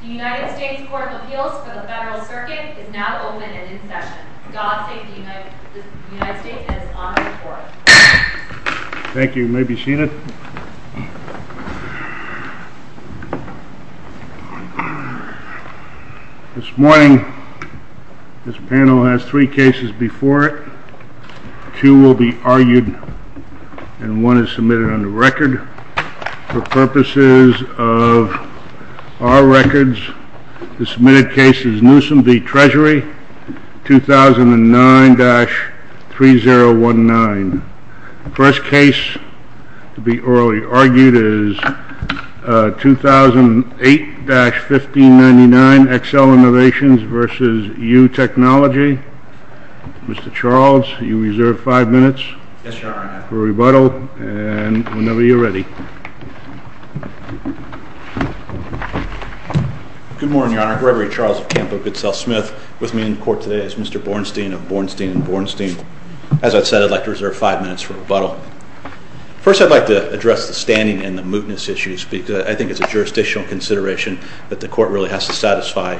The United States Court of Appeals for the Federal Circuit is now open and in session. God save the United States and its honored court. Our records, the submitted case is Newsom v. Treasury, 2009-3019. First case to be orally argued is 2008-1599, Excel Innovations v. You Technology. Mr. Charles, you reserve five minutes for rebuttal and whenever you're ready. Good morning, Your Honor. Gregory Charles of Campo Goodsell Smith. With me in court today is Mr. Bornstein of Bornstein and Bornstein. As I said, I'd like to reserve five minutes for rebuttal. First, I'd like to address the standing and the mootness issues because I think it's a jurisdictional consideration that the court really has to satisfy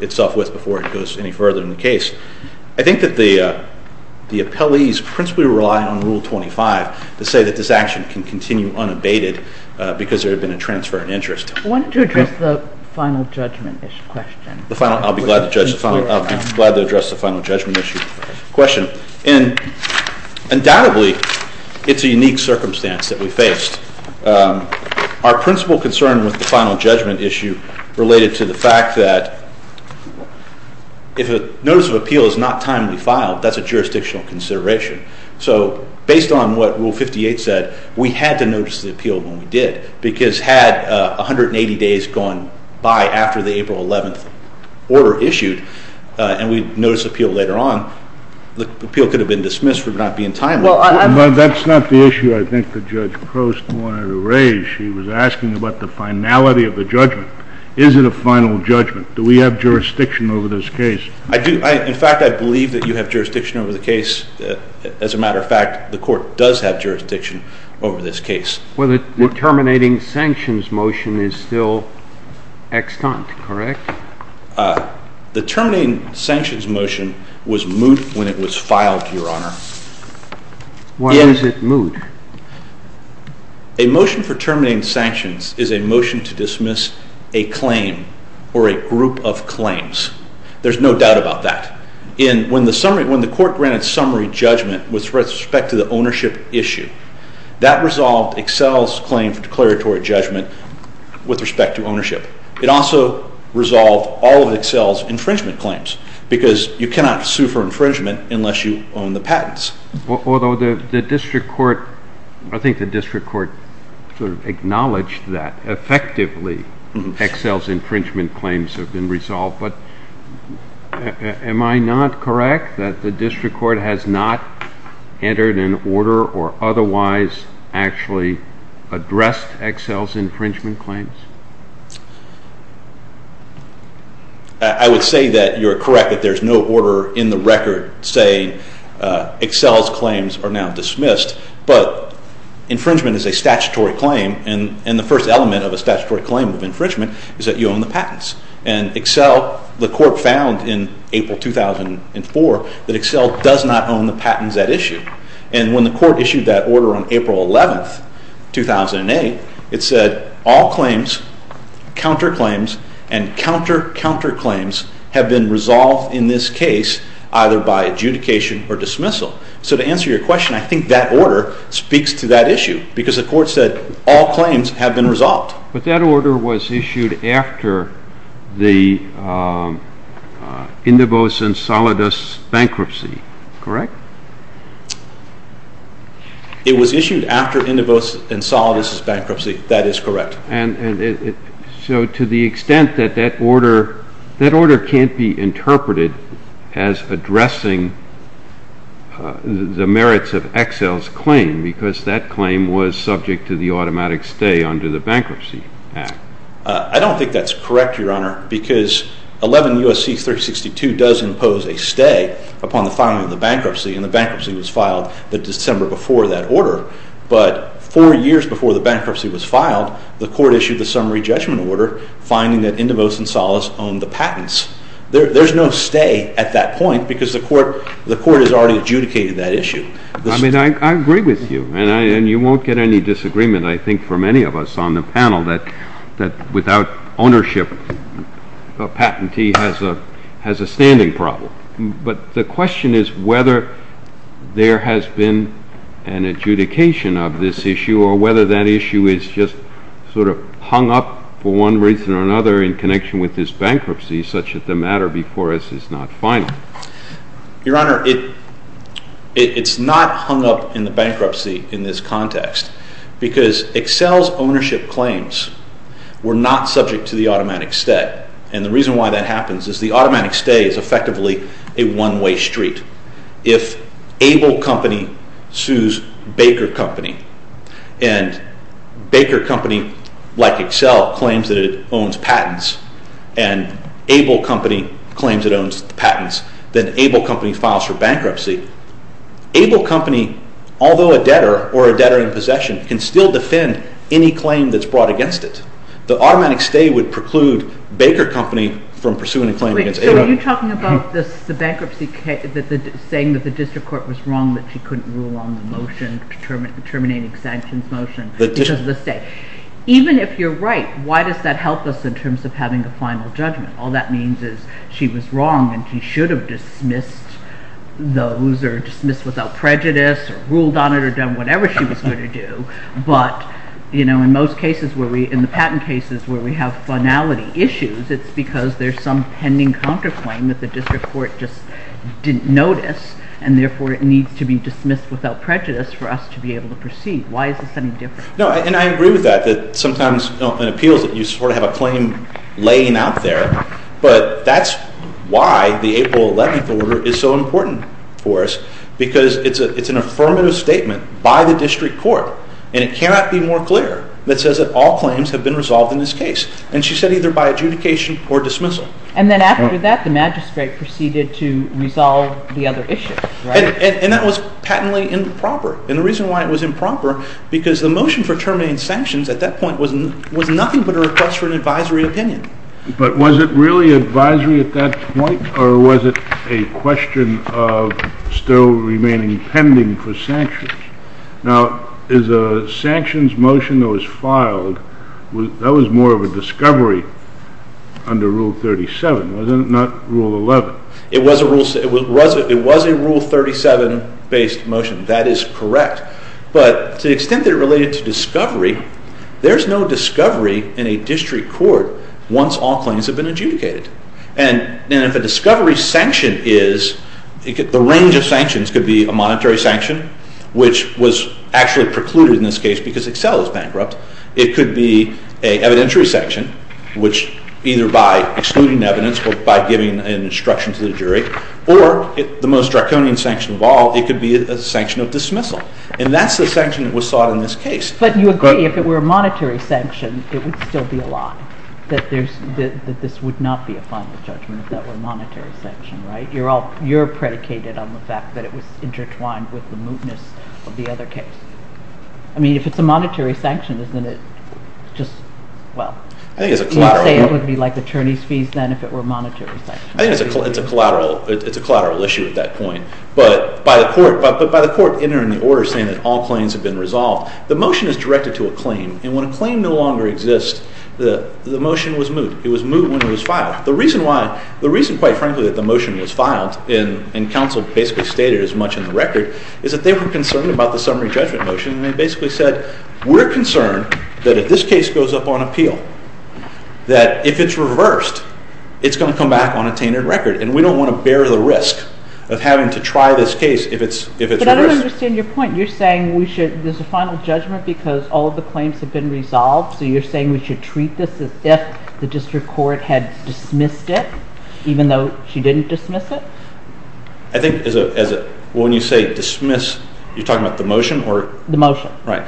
itself with before it goes any further in the case. I think that the appellees principally relied on Rule 25 to say that this action can continue unabated because there had been a transfer of interest. I wanted to address the final judgment issue question. I'll be glad to address the final judgment issue question. Undoubtedly, it's a unique circumstance that we faced. Our principal concern with the final judgment issue related to the fact that if a notice of appeal is not timely filed, that's a jurisdictional consideration. So based on what Rule 58 said, we had to notice the appeal when we did because had 180 days gone by after the April 11th order issued and we noticed appeal later on, the appeal could have been dismissed for not being timely. That's not the issue I think that Judge Crost wanted to raise. She was asking about the finality of the judgment. Is it a final judgment? Do we have jurisdiction over this case? In fact, I believe that you have jurisdiction over the case. As a matter of fact, the court does have jurisdiction over this case. Well, the terminating sanctions motion is still extant, correct? The terminating sanctions motion was moot when it was filed, Your Honor. Why is it moot? A motion for terminating sanctions is a motion to dismiss a claim or a group of claims. There's no doubt about that. When the court granted summary judgment with respect to the ownership issue, that resolved Excel's claim for declaratory judgment with respect to ownership. It also resolved all of Excel's infringement claims because you cannot sue for infringement unless you own the patents. Although the district court, I think the district court sort of acknowledged that effectively Excel's infringement claims have been resolved, but am I not correct that the district court has not entered an order or otherwise actually addressed Excel's infringement claims? I would say that you're correct that there's no order in the record saying Excel's claims are now dismissed, but infringement is a statutory claim and the first element of a statutory claim of infringement is that you own the patents. And Excel, the court found in April 2004 that Excel does not own the patents at issue. And when the court issued that order on April 11, 2008, it said all claims, counterclaims, and counter-counterclaims have been resolved in this case either by adjudication or dismissal. So to answer your question, I think that order speaks to that issue because the court said all claims have been resolved. But that order was issued after the Indivos and Solidus bankruptcy, correct? It was issued after Indivos and Solidus bankruptcy, that is correct. So to the extent that that order can't be interpreted as addressing the merits of Excel's claim because that claim was subject to the automatic stay under the Bankruptcy Act. I don't think that's correct, Your Honor, because 11 U.S.C. 3062 does impose a stay upon the filing of the bankruptcy, and the bankruptcy was filed the December before that order. But four years before the bankruptcy was filed, the court issued the summary judgment order finding that Indivos and Solidus owned the patents. There's no stay at that point because the court has already adjudicated that issue. I mean, I agree with you, and you won't get any disagreement, I think, from any of us on the panel that without ownership, a patentee has a standing problem. But the question is whether there has been an adjudication of this issue or whether that issue is just sort of hung up for one reason or another in connection with this bankruptcy such that the matter before us is not final. Your Honor, it's not hung up in the bankruptcy in this context because Excel's ownership claims were not subject to the automatic stay. And the reason why that happens is the automatic stay is effectively a one-way street. If Able Company sues Baker Company, and Baker Company, like Excel, claims that it owns patents, and Able Company claims it owns patents, then Able Company files for bankruptcy. Able Company, although a debtor or a debtor in possession, can still defend any claim that's brought against it. The automatic stay would preclude Baker Company from pursuing a claim against Able. So are you talking about the bankruptcy case, saying that the district court was wrong that she couldn't rule on the motion, terminating sanctions motion, because of the stay? Even if you're right, why does that help us in terms of having a final judgment? All that means is she was wrong and she should have dismissed those or dismissed without prejudice or ruled on it or done whatever she was going to do. But, you know, in most cases where we—in the patent cases where we have finality issues, it's because there's some pending counterclaim that the district court just didn't notice, and therefore it needs to be dismissed without prejudice for us to be able to proceed. Why is this any different? No, and I agree with that, that sometimes in appeals you sort of have a claim laying out there. But that's why the April 11th order is so important for us, because it's an affirmative statement by the district court, and it cannot be more clear that says that all claims have been resolved in this case. And she said either by adjudication or dismissal. And then after that, the magistrate proceeded to resolve the other issues, right? And that was patently improper. And the reason why it was improper, because the motion for terminating sanctions at that point was nothing but a request for an advisory opinion. But was it really advisory at that point, or was it a question of still remaining pending for sanctions? Now, is a sanctions motion that was filed, that was more of a discovery under Rule 37, wasn't it, not Rule 11? It was a Rule 37-based motion. That is correct. But to the extent that it related to discovery, there's no discovery in a district court once all claims have been adjudicated. And if a discovery sanction is, the range of sanctions could be a monetary sanction, which was actually precluded in this case because Excel is bankrupt. It could be an evidentiary sanction, which either by excluding evidence or by giving an instruction to the jury, or the most draconian sanction of all, it could be a sanction of dismissal. And that's the sanction that was sought in this case. But you agree if it were a monetary sanction, it would still be a lie, that this would not be a final judgment if that were a monetary sanction, right? You're predicated on the fact that it was intertwined with the mootness of the other case. I mean, if it's a monetary sanction, isn't it just, well, you'd say it would be like attorney's fees then if it were a monetary sanction. I think it's a collateral issue at that point. But by the court entering the order saying that all claims have been resolved, the motion is directed to a claim. And when a claim no longer exists, the motion was moot. It was moot when it was filed. The reason why, the reason, quite frankly, that the motion was filed, and counsel basically stated as much in the record, is that they were concerned about the summary judgment motion. And they basically said, we're concerned that if this case goes up on appeal, that if it's reversed, it's going to come back on a tainted record. And we don't want to bear the risk of having to try this case if it's reversed. But I don't understand your point. You're saying there's a final judgment because all of the claims have been resolved. So you're saying we should treat this as if the district court had dismissed it, even though she didn't dismiss it? I think when you say dismiss, you're talking about the motion? The motion. Right.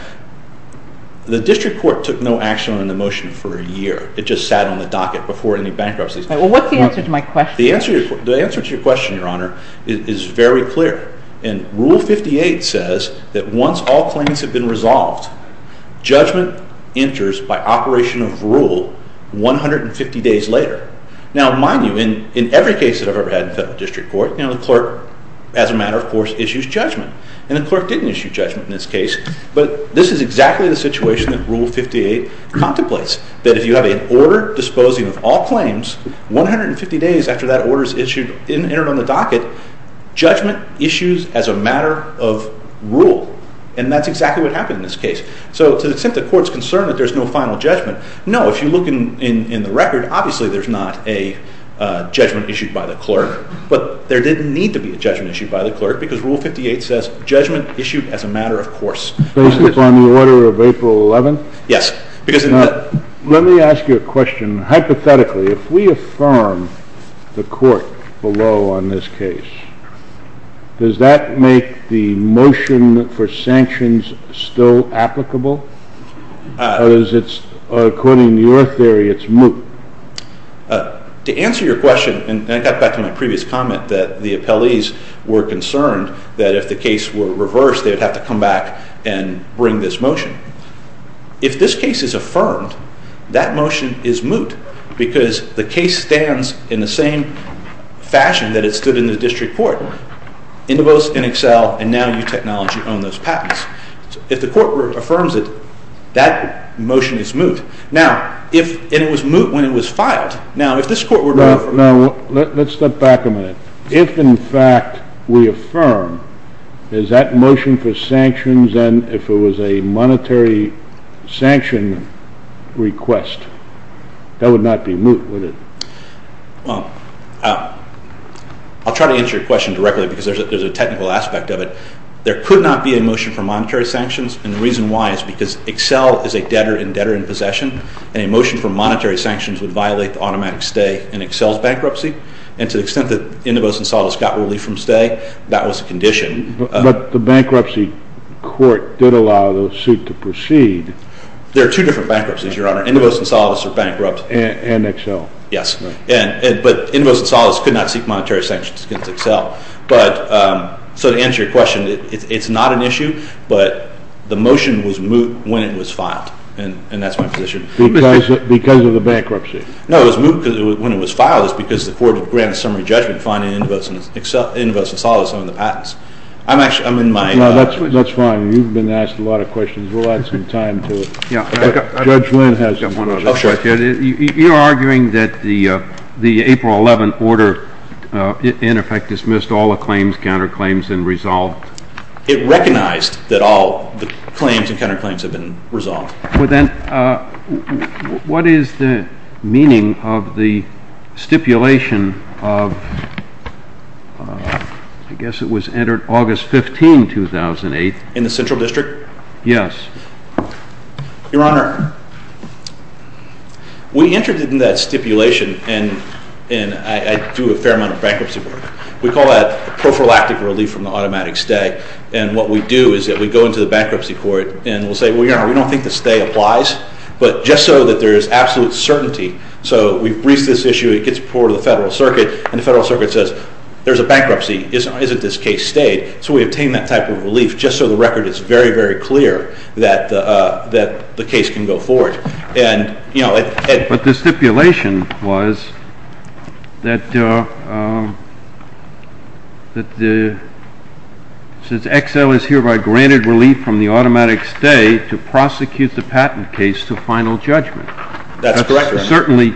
The district court took no action on the motion for a year. It just sat on the docket before any bankruptcy. Well, what's the answer to my question? The answer to your question, Your Honor, is very clear. And Rule 58 says that once all claims have been resolved, judgment enters by operation of rule 150 days later. Now, mind you, in every case that I've ever had in federal district court, the clerk, as a matter of course, issues judgment. And the clerk didn't issue judgment in this case. But this is exactly the situation that Rule 58 contemplates. That if you have an order disposing of all claims, 150 days after that order's entered on the docket, judgment issues as a matter of rule. And that's exactly what happened in this case. So to the extent the court's concerned that there's no final judgment, no. If you look in the record, obviously there's not a judgment issued by the clerk. But there didn't need to be a judgment issued by the clerk because Rule 58 says judgment issued as a matter of course. Based upon the order of April 11th? Yes. Let me ask you a question. Hypothetically, if we affirm the court below on this case, does that make the motion for sanctions still applicable? Or according to your theory, it's moot? To answer your question, and I got back to my previous comment that the appellees were concerned that if the case were reversed, they would have to come back and bring this motion. If this case is affirmed, that motion is moot because the case stands in the same fashion that it stood in the district court. Indivose, NXL, and now U Technology own those patents. If the court affirms it, that motion is moot. Now, if it was moot when it was filed, now if this court were to... Now, let's step back a minute. If in fact we affirm, is that motion for sanctions and if it was a monetary sanction request, that would not be moot, would it? Well, I'll try to answer your question directly because there's a technical aspect of it. There could not be a motion for monetary sanctions and the reason why is because EXCEL is a debtor and debtor in possession and a motion for monetary sanctions would violate the automatic stay in EXCEL's bankruptcy and to the extent that Indivose and Solidus got relief from stay, that was a condition. But the bankruptcy court did allow the suit to proceed. There are two different bankruptcies, Your Honor. Indivose and Solidus are bankrupt. And EXCEL. Yes. Right. But Indivose and Solidus could not seek monetary sanctions against EXCEL. But, so to answer your question, it's not an issue, but the motion was moot when it was filed and that's my position. Because of the bankruptcy. No, it was moot when it was filed because the court granted summary judgment fining Indivose and Solidus on the patents. I'm actually, I'm in my... No, that's fine. You've been asked a lot of questions. We'll add some time to it. Judge Lynn has one. You're arguing that the April 11th order, in effect, dismissed all the claims, counterclaims, and resolved. It recognized that all the claims and counterclaims have been resolved. Well then, what is the meaning of the stipulation of, I guess it was entered August 15, 2008. In the Central District? Yes. Your Honor, we entered it in that stipulation and I do a fair amount of bankruptcy work. We call that prophylactic relief from the automatic stay. And what we do is that we go into the bankruptcy court and we'll say, well, Your Honor, we don't think the stay applies. But just so that there is absolute certainty, so we've briefed this issue, it gets reported to the Federal Circuit. And the Federal Circuit says, there's a bankruptcy, isn't this case stayed? So we obtain that type of relief just so the record is very, very clear that the case can go forward. But the stipulation was that since Excel is hereby granted relief from the automatic stay to prosecute the patent case to final judgment. And certainly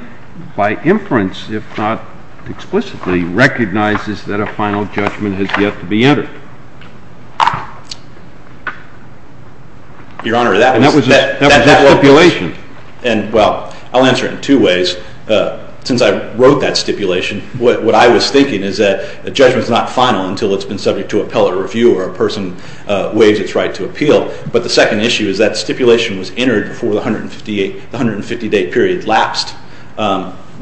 by inference, if not explicitly, recognizes that a final judgment has yet to be entered. Your Honor, that was the stipulation. Well, I'll answer it in two ways. Since I wrote that stipulation, what I was thinking is that a judgment is not final until it's been subject to appellate review or a person waives its right to appeal. But the second issue is that stipulation was entered before the 150-day period lapsed.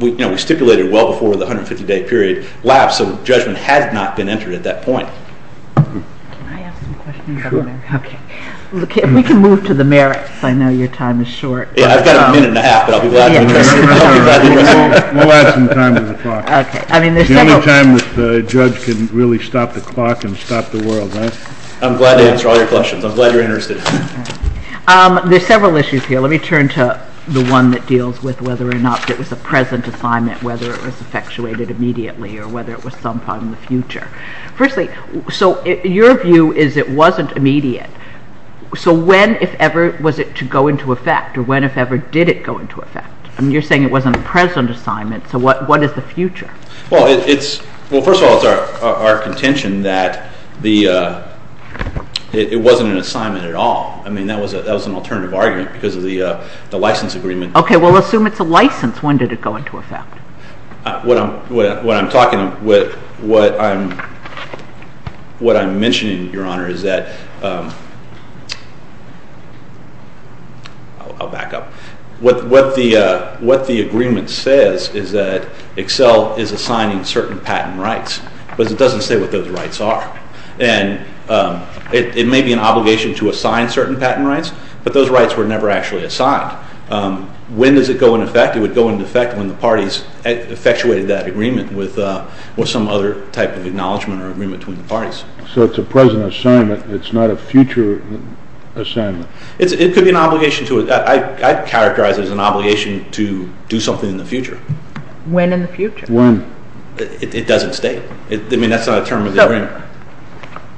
We stipulated well before the 150-day period lapsed, so judgment had not been entered at that point. Can I ask some questions, Governor? Okay. We can move to the merits. I know your time is short. Yeah, I've got a minute and a half, but I'll be glad to address it. We'll add some time to the clock. Okay. The only time that the judge can really stop the clock and stop the world, right? I'm glad to answer all your questions. I'm glad you're interested. There are several issues here. Let me turn to the one that deals with whether or not it was a present assignment, whether it was effectuated immediately, or whether it was some time in the future. Firstly, so your view is it wasn't immediate. So when, if ever, was it to go into effect, or when, if ever, did it go into effect? I mean, you're saying it wasn't a present assignment, so what is the future? Well, first of all, it's our contention that it wasn't an assignment at all. I mean, that was an alternative argument because of the license agreement. Okay. Well, assume it's a license. When did it go into effect? What I'm talking, what I'm mentioning, Your Honor, is that, I'll back up. What the agreement says is that Excel is assigning certain patent rights, but it doesn't say what those rights are. And it may be an obligation to assign certain patent rights, but those rights were never actually assigned. When does it go into effect? It would go into effect when the parties effectuated that agreement with some other type of acknowledgement or agreement between the parties. So it's a present assignment. It's not a future assignment. It could be an obligation to, I'd characterize it as an obligation to do something in the future. When in the future? When? It doesn't state. I mean, that's not a term of the agreement.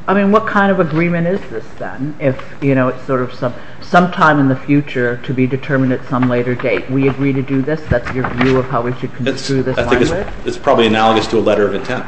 I mean, what kind of agreement is this then? If, you know, it's sort of some time in the future to be determined at some later date. We agree to do this? That's your view of how we should go through this? I think it's probably analogous to a letter of intent.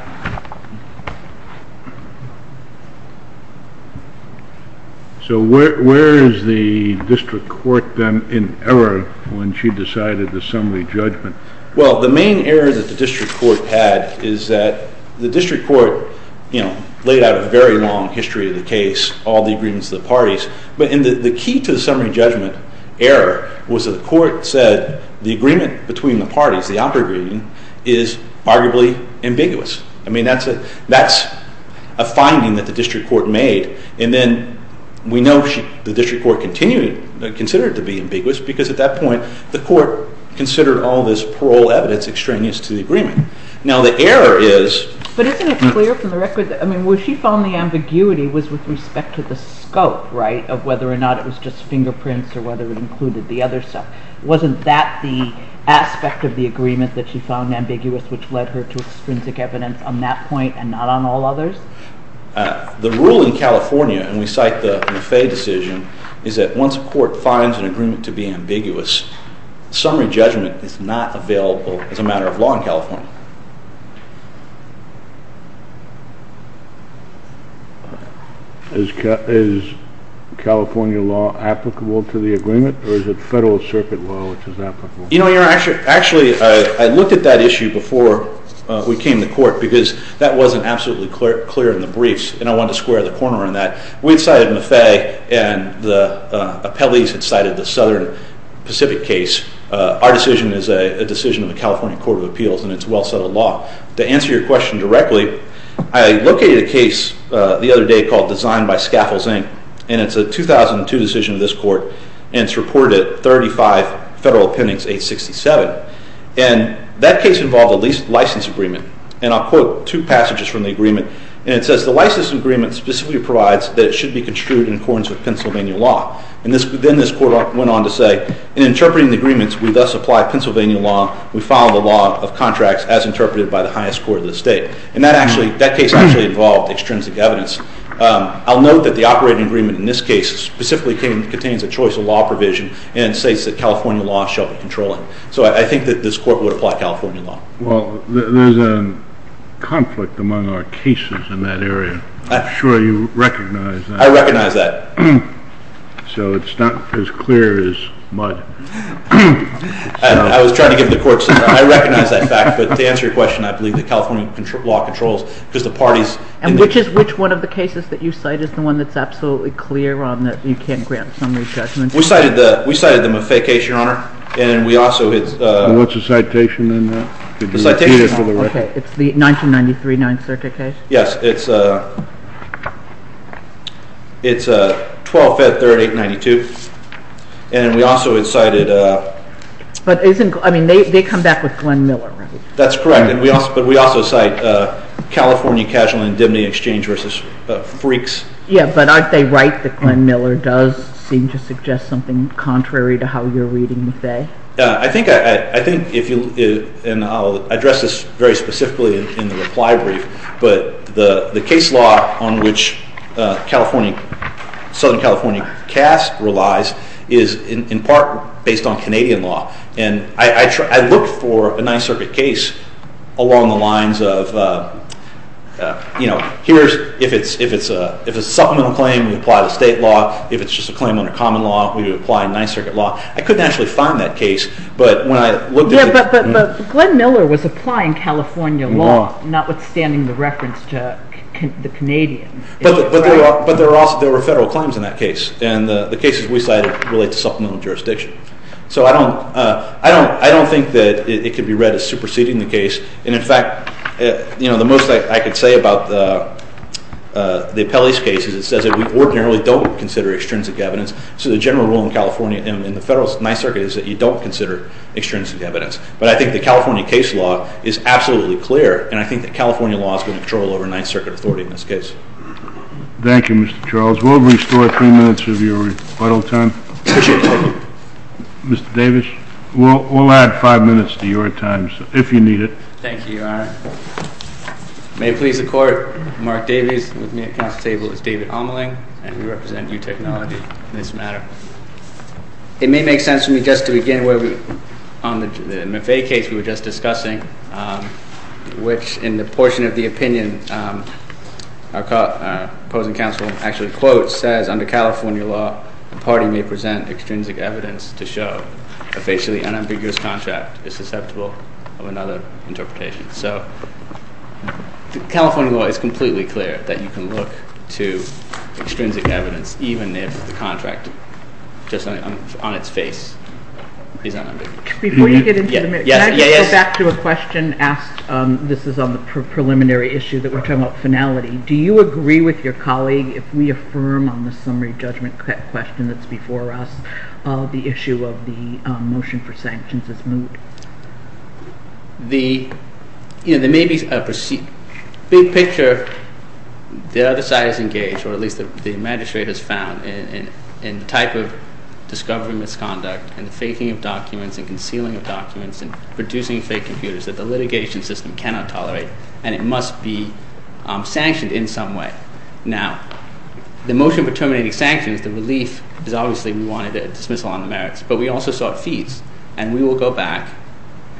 So where is the district court then in error when she decided the summary judgment? Well, the main error that the district court had is that the district court, you know, laid out a very long history of the case, all the agreements of the parties. But the key to the summary judgment error was that the court said the agreement between the parties, the operative agreement, is arguably ambiguous. I mean, that's a finding that the district court made. And then we know the district court considered it to be ambiguous because at that point the court considered all this parole evidence extraneous to the agreement. Now, the error is… But isn't it clear from the record that, I mean, where she found the ambiguity was with respect to the scope, right, of whether or not it was just fingerprints or whether it included the other stuff. Wasn't that the aspect of the agreement that she found ambiguous which led her to extrinsic evidence on that point and not on all others? The rule in California, and we cite the Maffei decision, is that once a court finds an agreement to be ambiguous, summary judgment is not available as a matter of law in California. Is California law applicable to the agreement or is it Federal Circuit law which is applicable? You know, actually, I looked at that issue before we came to court because that wasn't absolutely clear in the briefs and I wanted to square the corner on that. We had cited Maffei and the appellees had cited the Southern Pacific case. Our decision is a decision of the California Court of Appeals and it's well-settled law. To answer your question directly, I located a case the other day called Designed by Scaffolds, Inc. and it's a 2002 decision of this court and it's reported at 35 Federal Appendix 867. And that case involved a leased license agreement and I'll quote two passages from the agreement. And it says, the license agreement specifically provides that it should be construed in accordance with Pennsylvania law. And then this court went on to say, in interpreting the agreements, we thus apply Pennsylvania law. We follow the law of contracts as interpreted by the highest court of the state. And that case actually involved extrinsic evidence. I'll note that the operating agreement in this case specifically contains a choice of law provision and it states that California law shall be controlling. So I think that this court would apply California law. Well, there's a conflict among our cases in that area. I'm sure you recognize that. I recognize that. So it's not as clear as mud. I was trying to give the court some time. I recognize that fact. But to answer your question, I believe that California law controls because the parties... And which one of the cases that you cite is the one that's absolutely clear on that you can't grant summary judgment? We cited the Maffei case, Your Honor. And we also... What's the citation on that? The citation... Okay, it's the 1993 Ninth Circuit case? Yes, it's 12-Fed-3892. And we also cited... But isn't... I mean, they come back with Glenn Miller, right? That's correct. But we also cite California Casual Indemnity Exchange v. Freaks. Yeah, but aren't they right that Glenn Miller does seem to suggest something contrary to how you're reading Maffei? I think if you... And I'll address this very specifically in the reply brief. But the case law on which Southern California cast relies is in part based on Canadian law. And I look for a Ninth Circuit case along the lines of, you know, here's... If it's a supplemental claim, we apply the state law. If it's just a claim under common law, we would apply Ninth Circuit law. I couldn't actually find that case, but when I looked at it... Yeah, but Glenn Miller was applying California law, notwithstanding the reference to the Canadians. But there were federal claims in that case. And the cases we cited relate to supplemental jurisdiction. So I don't think that it could be read as superseding the case. And, in fact, you know, the most I could say about the Appellee's case is it says that we ordinarily don't consider extrinsic evidence. So the general rule in California, in the federal Ninth Circuit, is that you don't consider extrinsic evidence. But I think the California case law is absolutely clear, and I think that California law is going to control over Ninth Circuit authority in this case. Thank you, Mr. Charles. We'll restore three minutes of your rebuttal time. Mr. Davis, we'll add five minutes to your time, if you need it. Thank you, Your Honor. It may please the Court. Mark Davis with me at the Council table is David Ameling, and we represent UTechnology in this matter. It may make sense for me just to begin where we, on the Maffei case we were just discussing, which, in the portion of the opinion our opposing counsel actually quotes, says, Under California law, the party may present extrinsic evidence to show a facially unambiguous contract is susceptible of another interpretation. So California law is completely clear that you can look to extrinsic evidence even if the contract, just on its face, is unambiguous. Before you get into the minute, can I just go back to a question asked? This is on the preliminary issue that we're talking about, finality. Do you agree with your colleague, if we affirm on the summary judgment question that's before us, the issue of the motion for sanctions as moved? The, you know, there may be a big picture, the other side is engaged, or at least the Magistrate has found, in the type of discovery misconduct and faking of documents and concealing of documents and producing fake computers that the litigation system cannot tolerate, and it must be sanctioned in some way. Now, the motion for terminating sanctions, the relief, is obviously we wanted a dismissal on the merits, but we also sought fees, and we will go back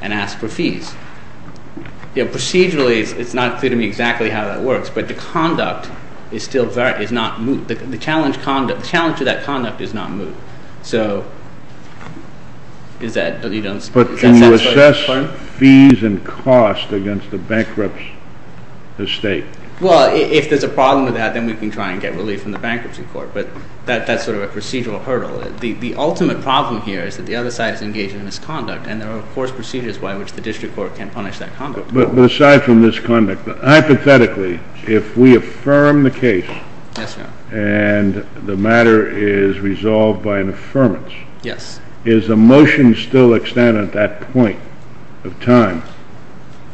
and ask for fees. Procedurally, it's not clear to me exactly how that works, but the conduct is still not moved. The challenge to that conduct is not moved. But can you assess fees and costs against the bankruptcy estate? Well, if there's a problem with that, then we can try and get relief from the bankruptcy court, but that's sort of a procedural hurdle. The ultimate problem here is that the other side is engaged in misconduct, and there are, of course, procedures by which the district court can punish that conduct. But aside from this conduct, hypothetically, if we affirm the case and the matter is resolved by an affirmance, is the motion still extended at that point of time,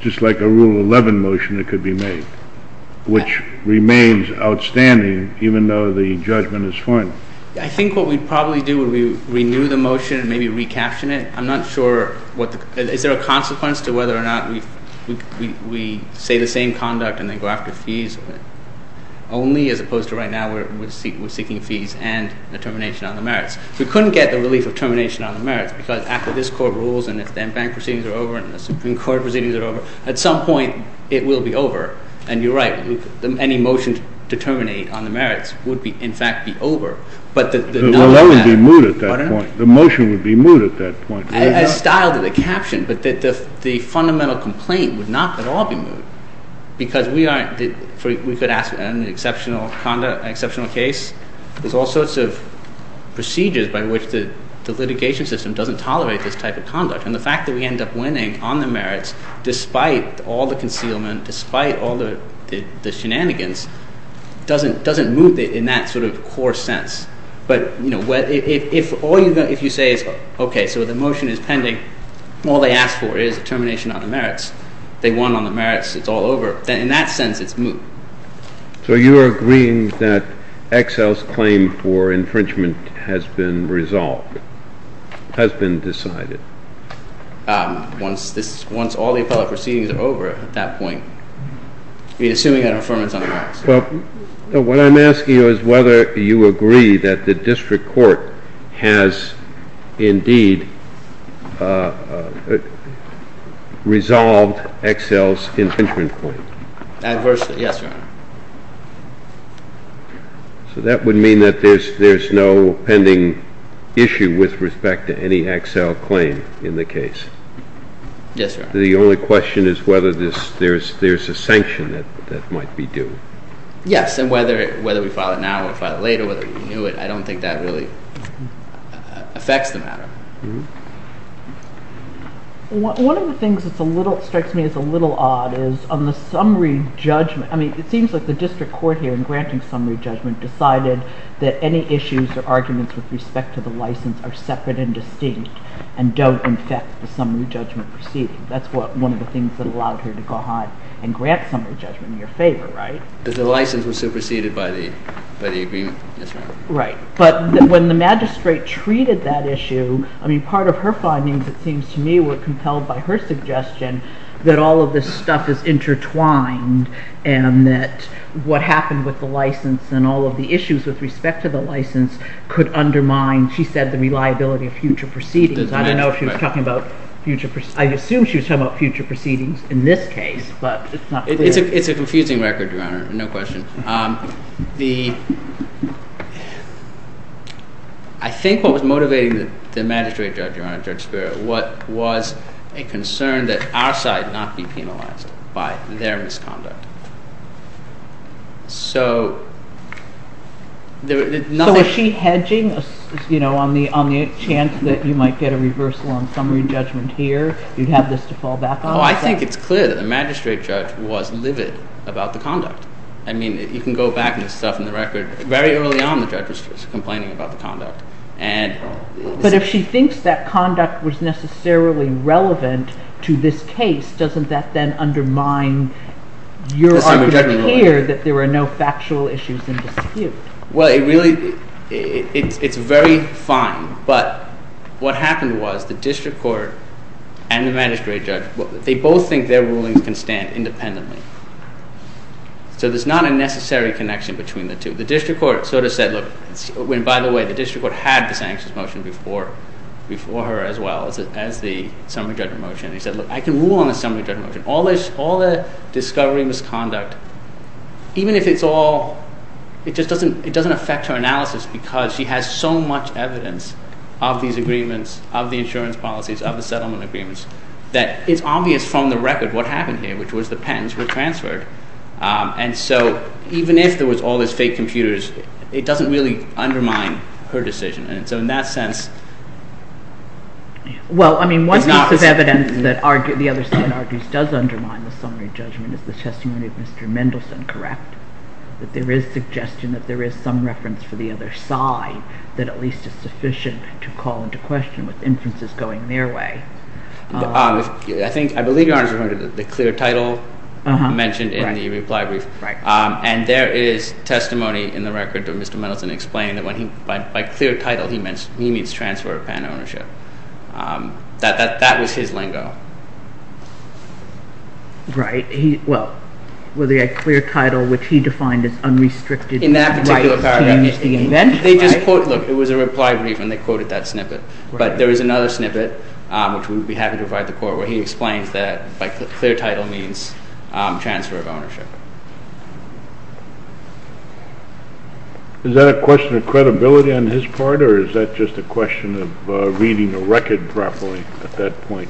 just like a Rule 11 motion that could be made, which remains outstanding even though the judgment is final? I think what we'd probably do would be renew the motion and maybe recaption it. I'm not sure. Is there a consequence to whether or not we say the same conduct and then go after fees only, as opposed to right now where we're seeking fees and a termination on the merits? We couldn't get the relief of termination on the merits because after this court rules and if the bank proceedings are over and the Supreme Court proceedings are over, at some point it will be over. And you're right. Any motion to terminate on the merits would, in fact, be over. The Rule 11 would be moved at that point. The motion would be moved at that point. I styled the caption, but the fundamental complaint would not at all be moved because we could ask an exceptional case. There's all sorts of procedures by which the litigation system doesn't tolerate this type of conduct. And the fact that we end up winning on the merits despite all the concealment, despite all the shenanigans, doesn't move it in that sort of core sense. But if you say, OK, so the motion is pending. All they ask for is a termination on the merits. They won on the merits. It's all over. In that sense, it's moved. So you are agreeing that Excel's claim for infringement has been resolved, has been decided? Once all the appellate proceedings are over at that point, assuming an affirmance on the merits. Well, what I'm asking you is whether you agree that the district court has indeed resolved Excel's infringement claim. Adversely, yes, Your Honor. So that would mean that there's no pending issue with respect to any Excel claim in the case? Yes, Your Honor. The only question is whether there's a sanction that might be due? Yes, and whether we file it now or file it later, whether we renew it, I don't think that really affects the matter. One of the things that strikes me as a little odd is on the summary judgment. I mean, it seems like the district court here in granting summary judgment decided that any issues or arguments with respect to the license are separate and distinct and don't affect the summary judgment proceeding. That's one of the things that allowed here to go ahead and grant summary judgment in your favor, right? The license was superseded by the agreement, yes, ma'am. Right, but when the magistrate treated that issue, I mean, part of her findings, it seems to me, were compelled by her suggestion that all of this stuff is intertwined and that what happened with the license and all of the issues with respect to the license could undermine, she said, the reliability of future proceedings. I don't know if she was talking about future – I assume she was talking about future proceedings in this case, but it's not clear. It's a confusing record, Your Honor, no question. The – I think what was motivating the magistrate judge, Your Honor, Judge Spera, was a concern that our side not be penalized by their misconduct. So – So was she hedging on the chance that you might get a reversal on summary judgment here? You'd have this to fall back on? Oh, I think it's clear that the magistrate judge was livid about the conduct. I mean, you can go back and stuff in the record. Very early on, the judge was complaining about the conduct and – But if she thinks that conduct was necessarily relevant to this case, doesn't that then undermine your argument here that there are no factual issues in dispute? Well, it really – it's very fine, but what happened was the district court and the magistrate judge, they both think their rulings can stand independently. So there's not a necessary connection between the two. The district court sort of said, look – and by the way, the district court had the sanctions motion before her as well as the summary judgment motion. They said, look, I can rule on the summary judgment motion. All the discovery, misconduct, even if it's all – it just doesn't – it doesn't affect her analysis because she has so much evidence of these agreements, of the insurance policies, of the settlement agreements, that it's obvious from the record what happened here, which was the pens were transferred. And so even if there was all these fake computers, it doesn't really undermine her decision. And so in that sense – Well, I mean, one piece of evidence that the other side argues does undermine the summary judgment is the testimony of Mr. Mendelson, correct? That there is suggestion that there is some reference for the other side that at least is sufficient to call into question with inferences going their way. I think – I believe Your Honor is referring to the clear title mentioned in the reply brief. Right. And there is testimony in the record that Mr. Mendelson explained that when he – by clear title, he means transfer of pen ownership. That was his lingo. Right. Well, the clear title, which he defined as unrestricted – In that particular paragraph. Right. They just quote – look, it was a reply brief and they quoted that snippet. Right. But there is another snippet, which we would be happy to provide the Court, where he explains that by clear title means transfer of ownership. Is that a question of credibility on his part or is that just a question of reading the record properly at that point?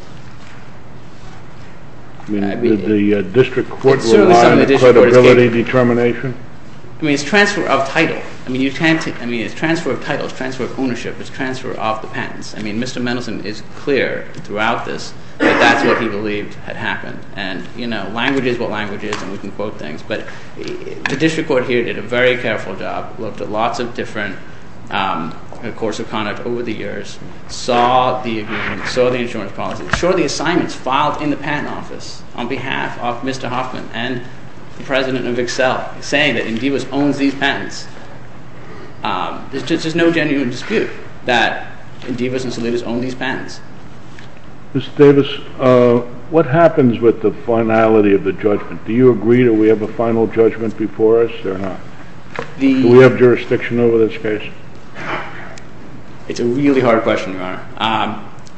I mean, did the district court rely on credibility determination? I mean, it's transfer of title. I mean, you can't – I mean, it's transfer of title. It's transfer of ownership. It's transfer of the patents. I mean, Mr. Mendelson is clear throughout this that that's what he believed had happened. And, you know, language is what language is and we can quote things. But the district court here did a very careful job, looked at lots of different course of conduct over the years, saw the agreement, saw the insurance policy, saw the assignments filed in the patent office on behalf of Mr. Hoffman and the president of Excel saying that Indivas owns these patents. There's just no genuine dispute that Indivas and Salidas own these patents. Mr. Davis, what happens with the finality of the judgment? Do you agree that we have a final judgment before us or not? Do we have jurisdiction over this case?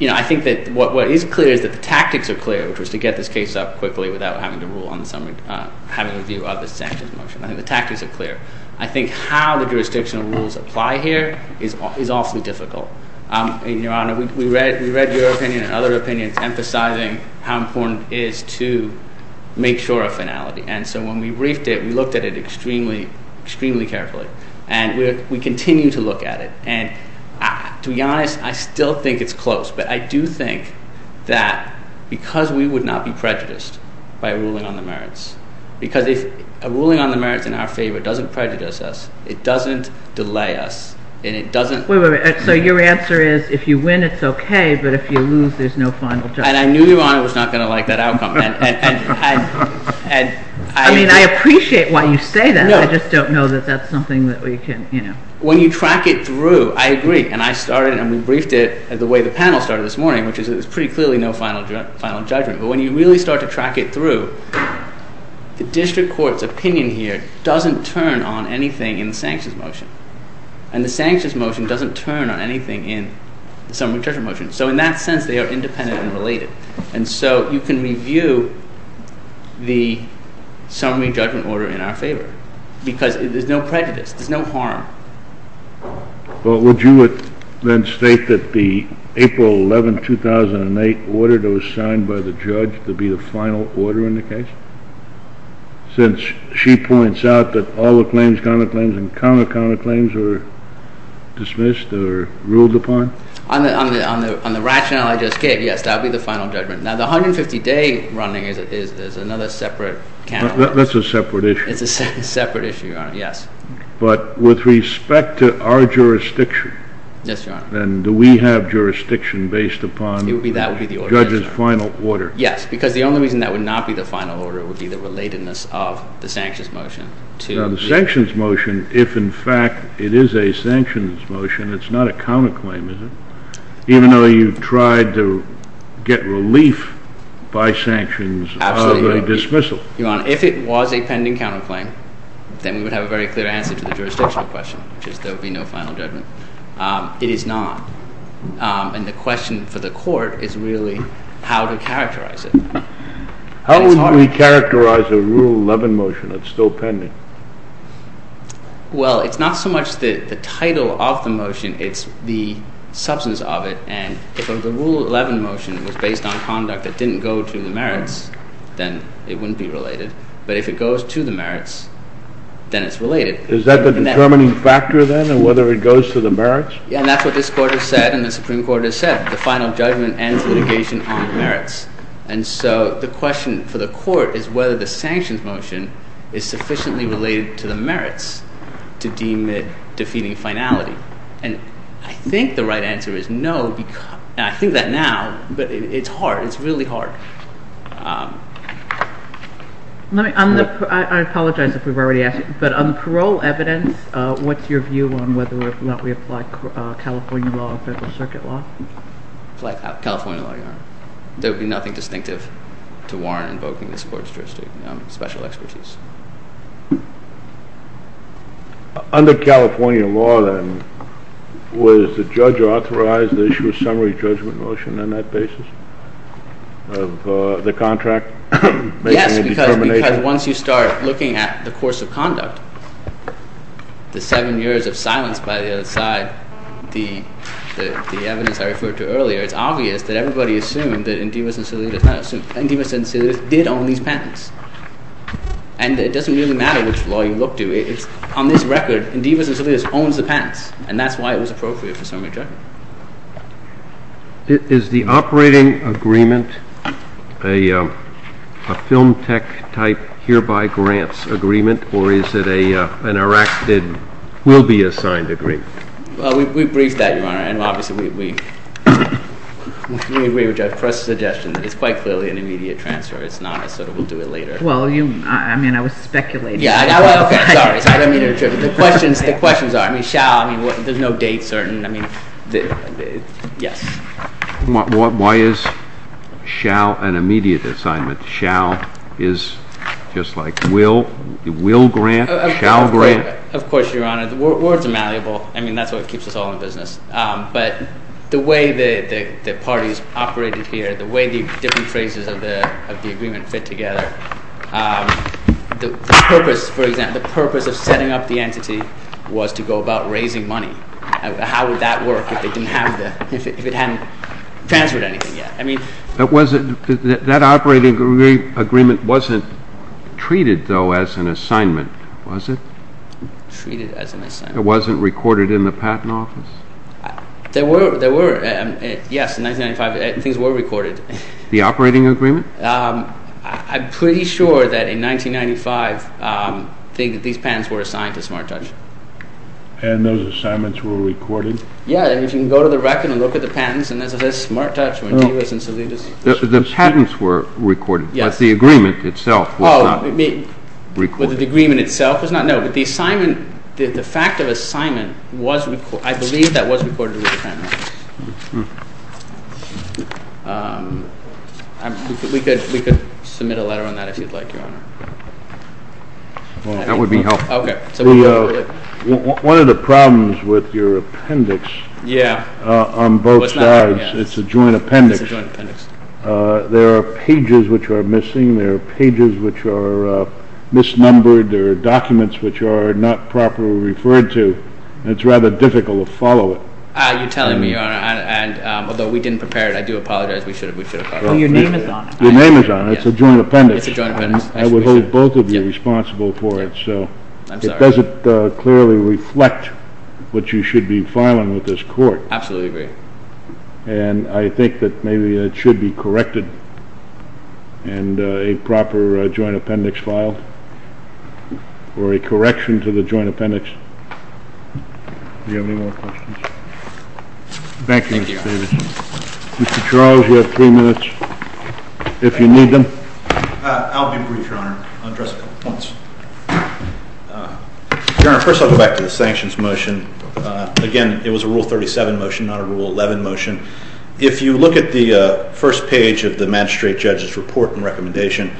You know, I think that what is clear is that the tactics are clear, which was to get this case up quickly without having to rule on the summary – having a review of the sanctions motion. I think the tactics are clear. I think how the jurisdictional rules apply here is awfully difficult. Your Honor, we read your opinion and other opinions emphasizing how important it is to make sure of finality. And so when we briefed it, we looked at it extremely, extremely carefully. And we continue to look at it. And to be honest, I still think it's close. But I do think that because we would not be prejudiced by a ruling on the merits – because if a ruling on the merits in our favor doesn't prejudice us, it doesn't delay us, and it doesn't – Wait, wait, wait. So your answer is if you win, it's okay, but if you lose, there's no final judgment. And I knew Your Honor was not going to like that outcome. I mean, I appreciate why you say that. I just don't know that that's something that we can – When you track it through, I agree, and I started and we briefed it the way the panel started this morning, which is there's pretty clearly no final judgment. But when you really start to track it through, the district court's opinion here doesn't turn on anything in the sanctions motion. And the sanctions motion doesn't turn on anything in the summary judgment motion. So in that sense, they are independent and related. And so you can review the summary judgment order in our favor because there's no prejudice. There's no harm. Well, would you then state that the April 11, 2008 order that was signed by the judge to be the final order in the case? Since she points out that all the claims, counterclaims, and counter-counterclaims are dismissed or ruled upon? On the rationale I just gave, yes, that would be the final judgment. Now, the 150-day running is another separate – That's a separate issue. It's a separate issue, Your Honor, yes. But with respect to our jurisdiction, then do we have jurisdiction based upon the judge's final order? Yes, because the only reason that would not be the final order would be the relatedness of the sanctions motion. Now, the sanctions motion, if in fact it is a sanctions motion, it's not a counterclaim, is it? Even though you've tried to get relief by sanctions of a dismissal. Your Honor, if it was a pending counterclaim, then we would have a very clear answer to the jurisdictional question, which is there would be no final judgment. It is not. And the question for the court is really how to characterize it. How would we characterize a Rule 11 motion that's still pending? Well, it's not so much the title of the motion, it's the substance of it. And if the Rule 11 motion was based on conduct that didn't go to the merits, then it wouldn't be related. But if it goes to the merits, then it's related. Is that the determining factor, then, in whether it goes to the merits? Yeah, and that's what this Court has said and the Supreme Court has said. The final judgment ends litigation on merits. And so the question for the court is whether the sanctions motion is sufficiently related to the merits to deem it defeating finality. And I think the right answer is no, and I think that now, but it's hard. It's really hard. I apologize if we've already asked, but on the parole evidence, what's your view on whether or not we apply California law or Federal Circuit law? Apply California law, Your Honor. There would be nothing distinctive to warrant invoking this Court's jurisdiction. Special expertise. Under California law, then, was the judge authorized to issue a summary judgment motion on that basis of the contract? Yes, because once you start looking at the course of conduct, the seven years of silence by the other side, the evidence I referred to earlier, it's obvious that everybody assumed that Endivas and Salidas did own these patents. And it doesn't really matter which law you look to. On this record, Endivas and Salidas owns the patents, and that's why it was appropriate for summary judgment. Is the operating agreement a film tech type hereby grants agreement, or is it an erected, will-be-assigned agreement? Well, we briefed that, Your Honor, and, obviously, we request a suggestion that it's quite clearly an immediate transfer. It's not a sort of, we'll do it later. Well, you, I mean, I was speculating. Yeah, okay, sorry. I didn't mean to interrupt. The questions are, I mean, shall, I mean, there's no date certain. I mean, yes. Why is shall an immediate assignment? Shall is just like will? Will grant? Shall grant? Of course, Your Honor. Words are malleable. I mean, that's what keeps us all in business. But the way the parties operated here, the way the different phrases of the agreement fit together, the purpose, for example, the purpose of setting up the entity was to go about raising money. How would that work if it didn't have the, if it hadn't transferred anything yet? That operating agreement wasn't treated, though, as an assignment, was it? Treated as an assignment. It wasn't recorded in the Patent Office? There were, yes, in 1995 things were recorded. The operating agreement? I'm pretty sure that in 1995 these patents were assigned to SmartTouch. And those assignments were recorded? Yeah, and you can go to the record and look at the patents and it says SmartTouch when he was in Salidas. The patents were recorded, but the agreement itself was not recorded? The agreement itself was not, no, but the fact of assignment, I believe that was recorded with the Patent Office. We could submit a letter on that if you'd like, Your Honor. That would be helpful. One of the problems with your appendix on both sides, it's a joint appendix, there are pages which are missing, there are pages which are misnumbered, there are documents which are not properly referred to, and it's rather difficult to follow it. You're telling me, Your Honor, and although we didn't prepare it, I do apologize, we should have followed it. Oh, your name is on it. Your name is on it, it's a joint appendix. I would hold both of you responsible for it, so it doesn't clearly reflect what you should be filing with this court. Absolutely agree. And I think that maybe it should be corrected, and a proper joint appendix filed, or a correction to the joint appendix. Do you have any more questions? Thank you, Mr. Davis. Mr. Charles, you have three minutes, if you need them. I'll be brief, Your Honor. I'll address a couple of points. Your Honor, first I'll go back to the sanctions motion. Again, it was a Rule 37 motion, not a Rule 11 motion. If you look at the first page of the magistrate judge's report and recommendation,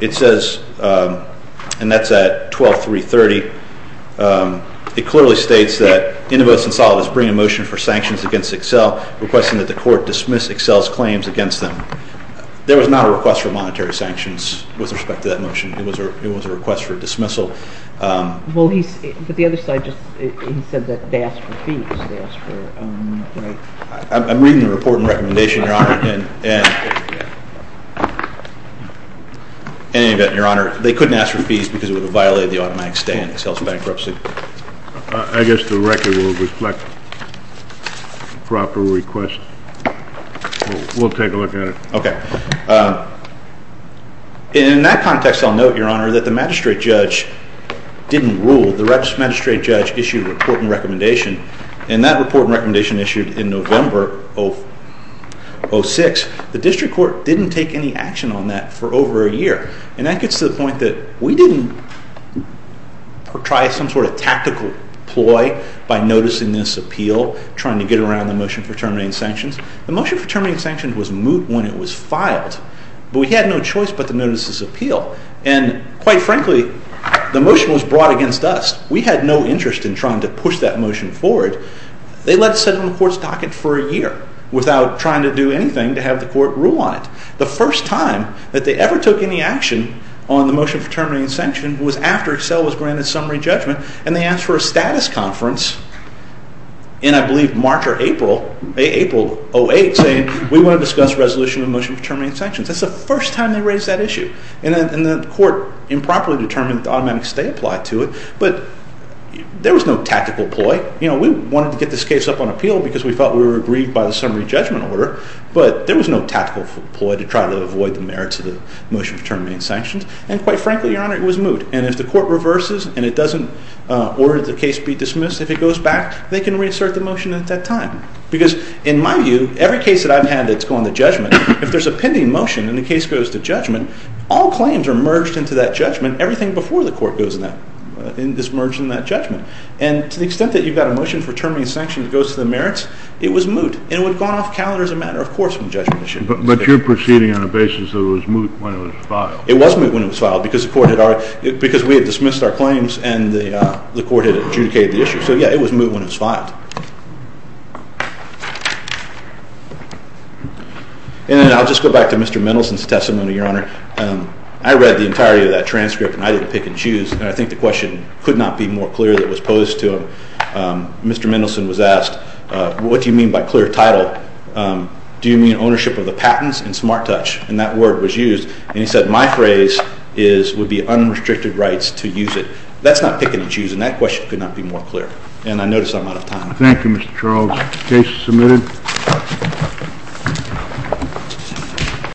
it says, and that's at 12.330, it clearly states that Indovos and Salovas bring a motion for sanctions against Excel, requesting that the court dismiss Excel's claims against them. There was not a request for monetary sanctions with respect to that motion. It was a request for dismissal. But the other side just said that they asked for fees. I'm reading the report and recommendation, Your Honor. In any event, Your Honor, they couldn't ask for fees because it would have violated the automatic stay in Excel's bankruptcy. I guess the record will reflect proper request. We'll take a look at it. Okay. In that context, I'll note, Your Honor, that the magistrate judge didn't rule. The magistrate judge issued a report and recommendation, and that report and recommendation issued in November of 2006. The district court didn't take any action on that for over a year, and that gets to the point that we didn't try some sort of tactical ploy by noticing this appeal, trying to get around the motion for terminating sanctions. The motion for terminating sanctions was moot when it was filed, but we had no choice but to notice this appeal. And quite frankly, the motion was brought against us. We had no interest in trying to push that motion forward. They let it sit on the court's docket for a year without trying to do anything to have the court rule on it. The first time that they ever took any action on the motion for terminating sanctions was after Excel was granted summary judgment, and they asked for a status conference in, I believe, March or April, April of 2008, saying we want to discuss resolution of the motion for terminating sanctions. That's the first time they raised that issue, and the court improperly determined that the automatic stay applied to it, but there was no tactical ploy. We wanted to get this case up on appeal because we felt we were agreed by the summary judgment order, but there was no tactical ploy to try to avoid the merits of the motion for terminating sanctions, and quite frankly, Your Honor, it was moot. And if the court reverses and it doesn't order the case be dismissed, if it goes back, they can reassert the motion at that time. Because in my view, every case that I've had that's gone to judgment, if there's a pending motion and the case goes to judgment, all claims are merged into that judgment. Everything before the court goes in that is merged in that judgment. And to the extent that you've got a motion for terminating sanctions that goes to the merits, it was moot, and it would have gone off calendar as a matter of course when judgment was issued. But you're proceeding on a basis that it was moot when it was filed. It was moot when it was filed because we had dismissed our claims and the court had adjudicated the issue. So, yeah, it was moot when it was filed. And then I'll just go back to Mr. Mendelson's testimony, Your Honor. I read the entirety of that transcript, and I didn't pick and choose, and I think the question could not be more clear that was posed to him. Mr. Mendelson was asked, what do you mean by clear title? Do you mean ownership of the patents and smart touch? And that word was used, and he said my phrase would be unrestricted rights to use it. That's not pick and choose, and that question could not be more clear. And I notice I'm out of time. Thank you, Mr. Charles. Case submitted.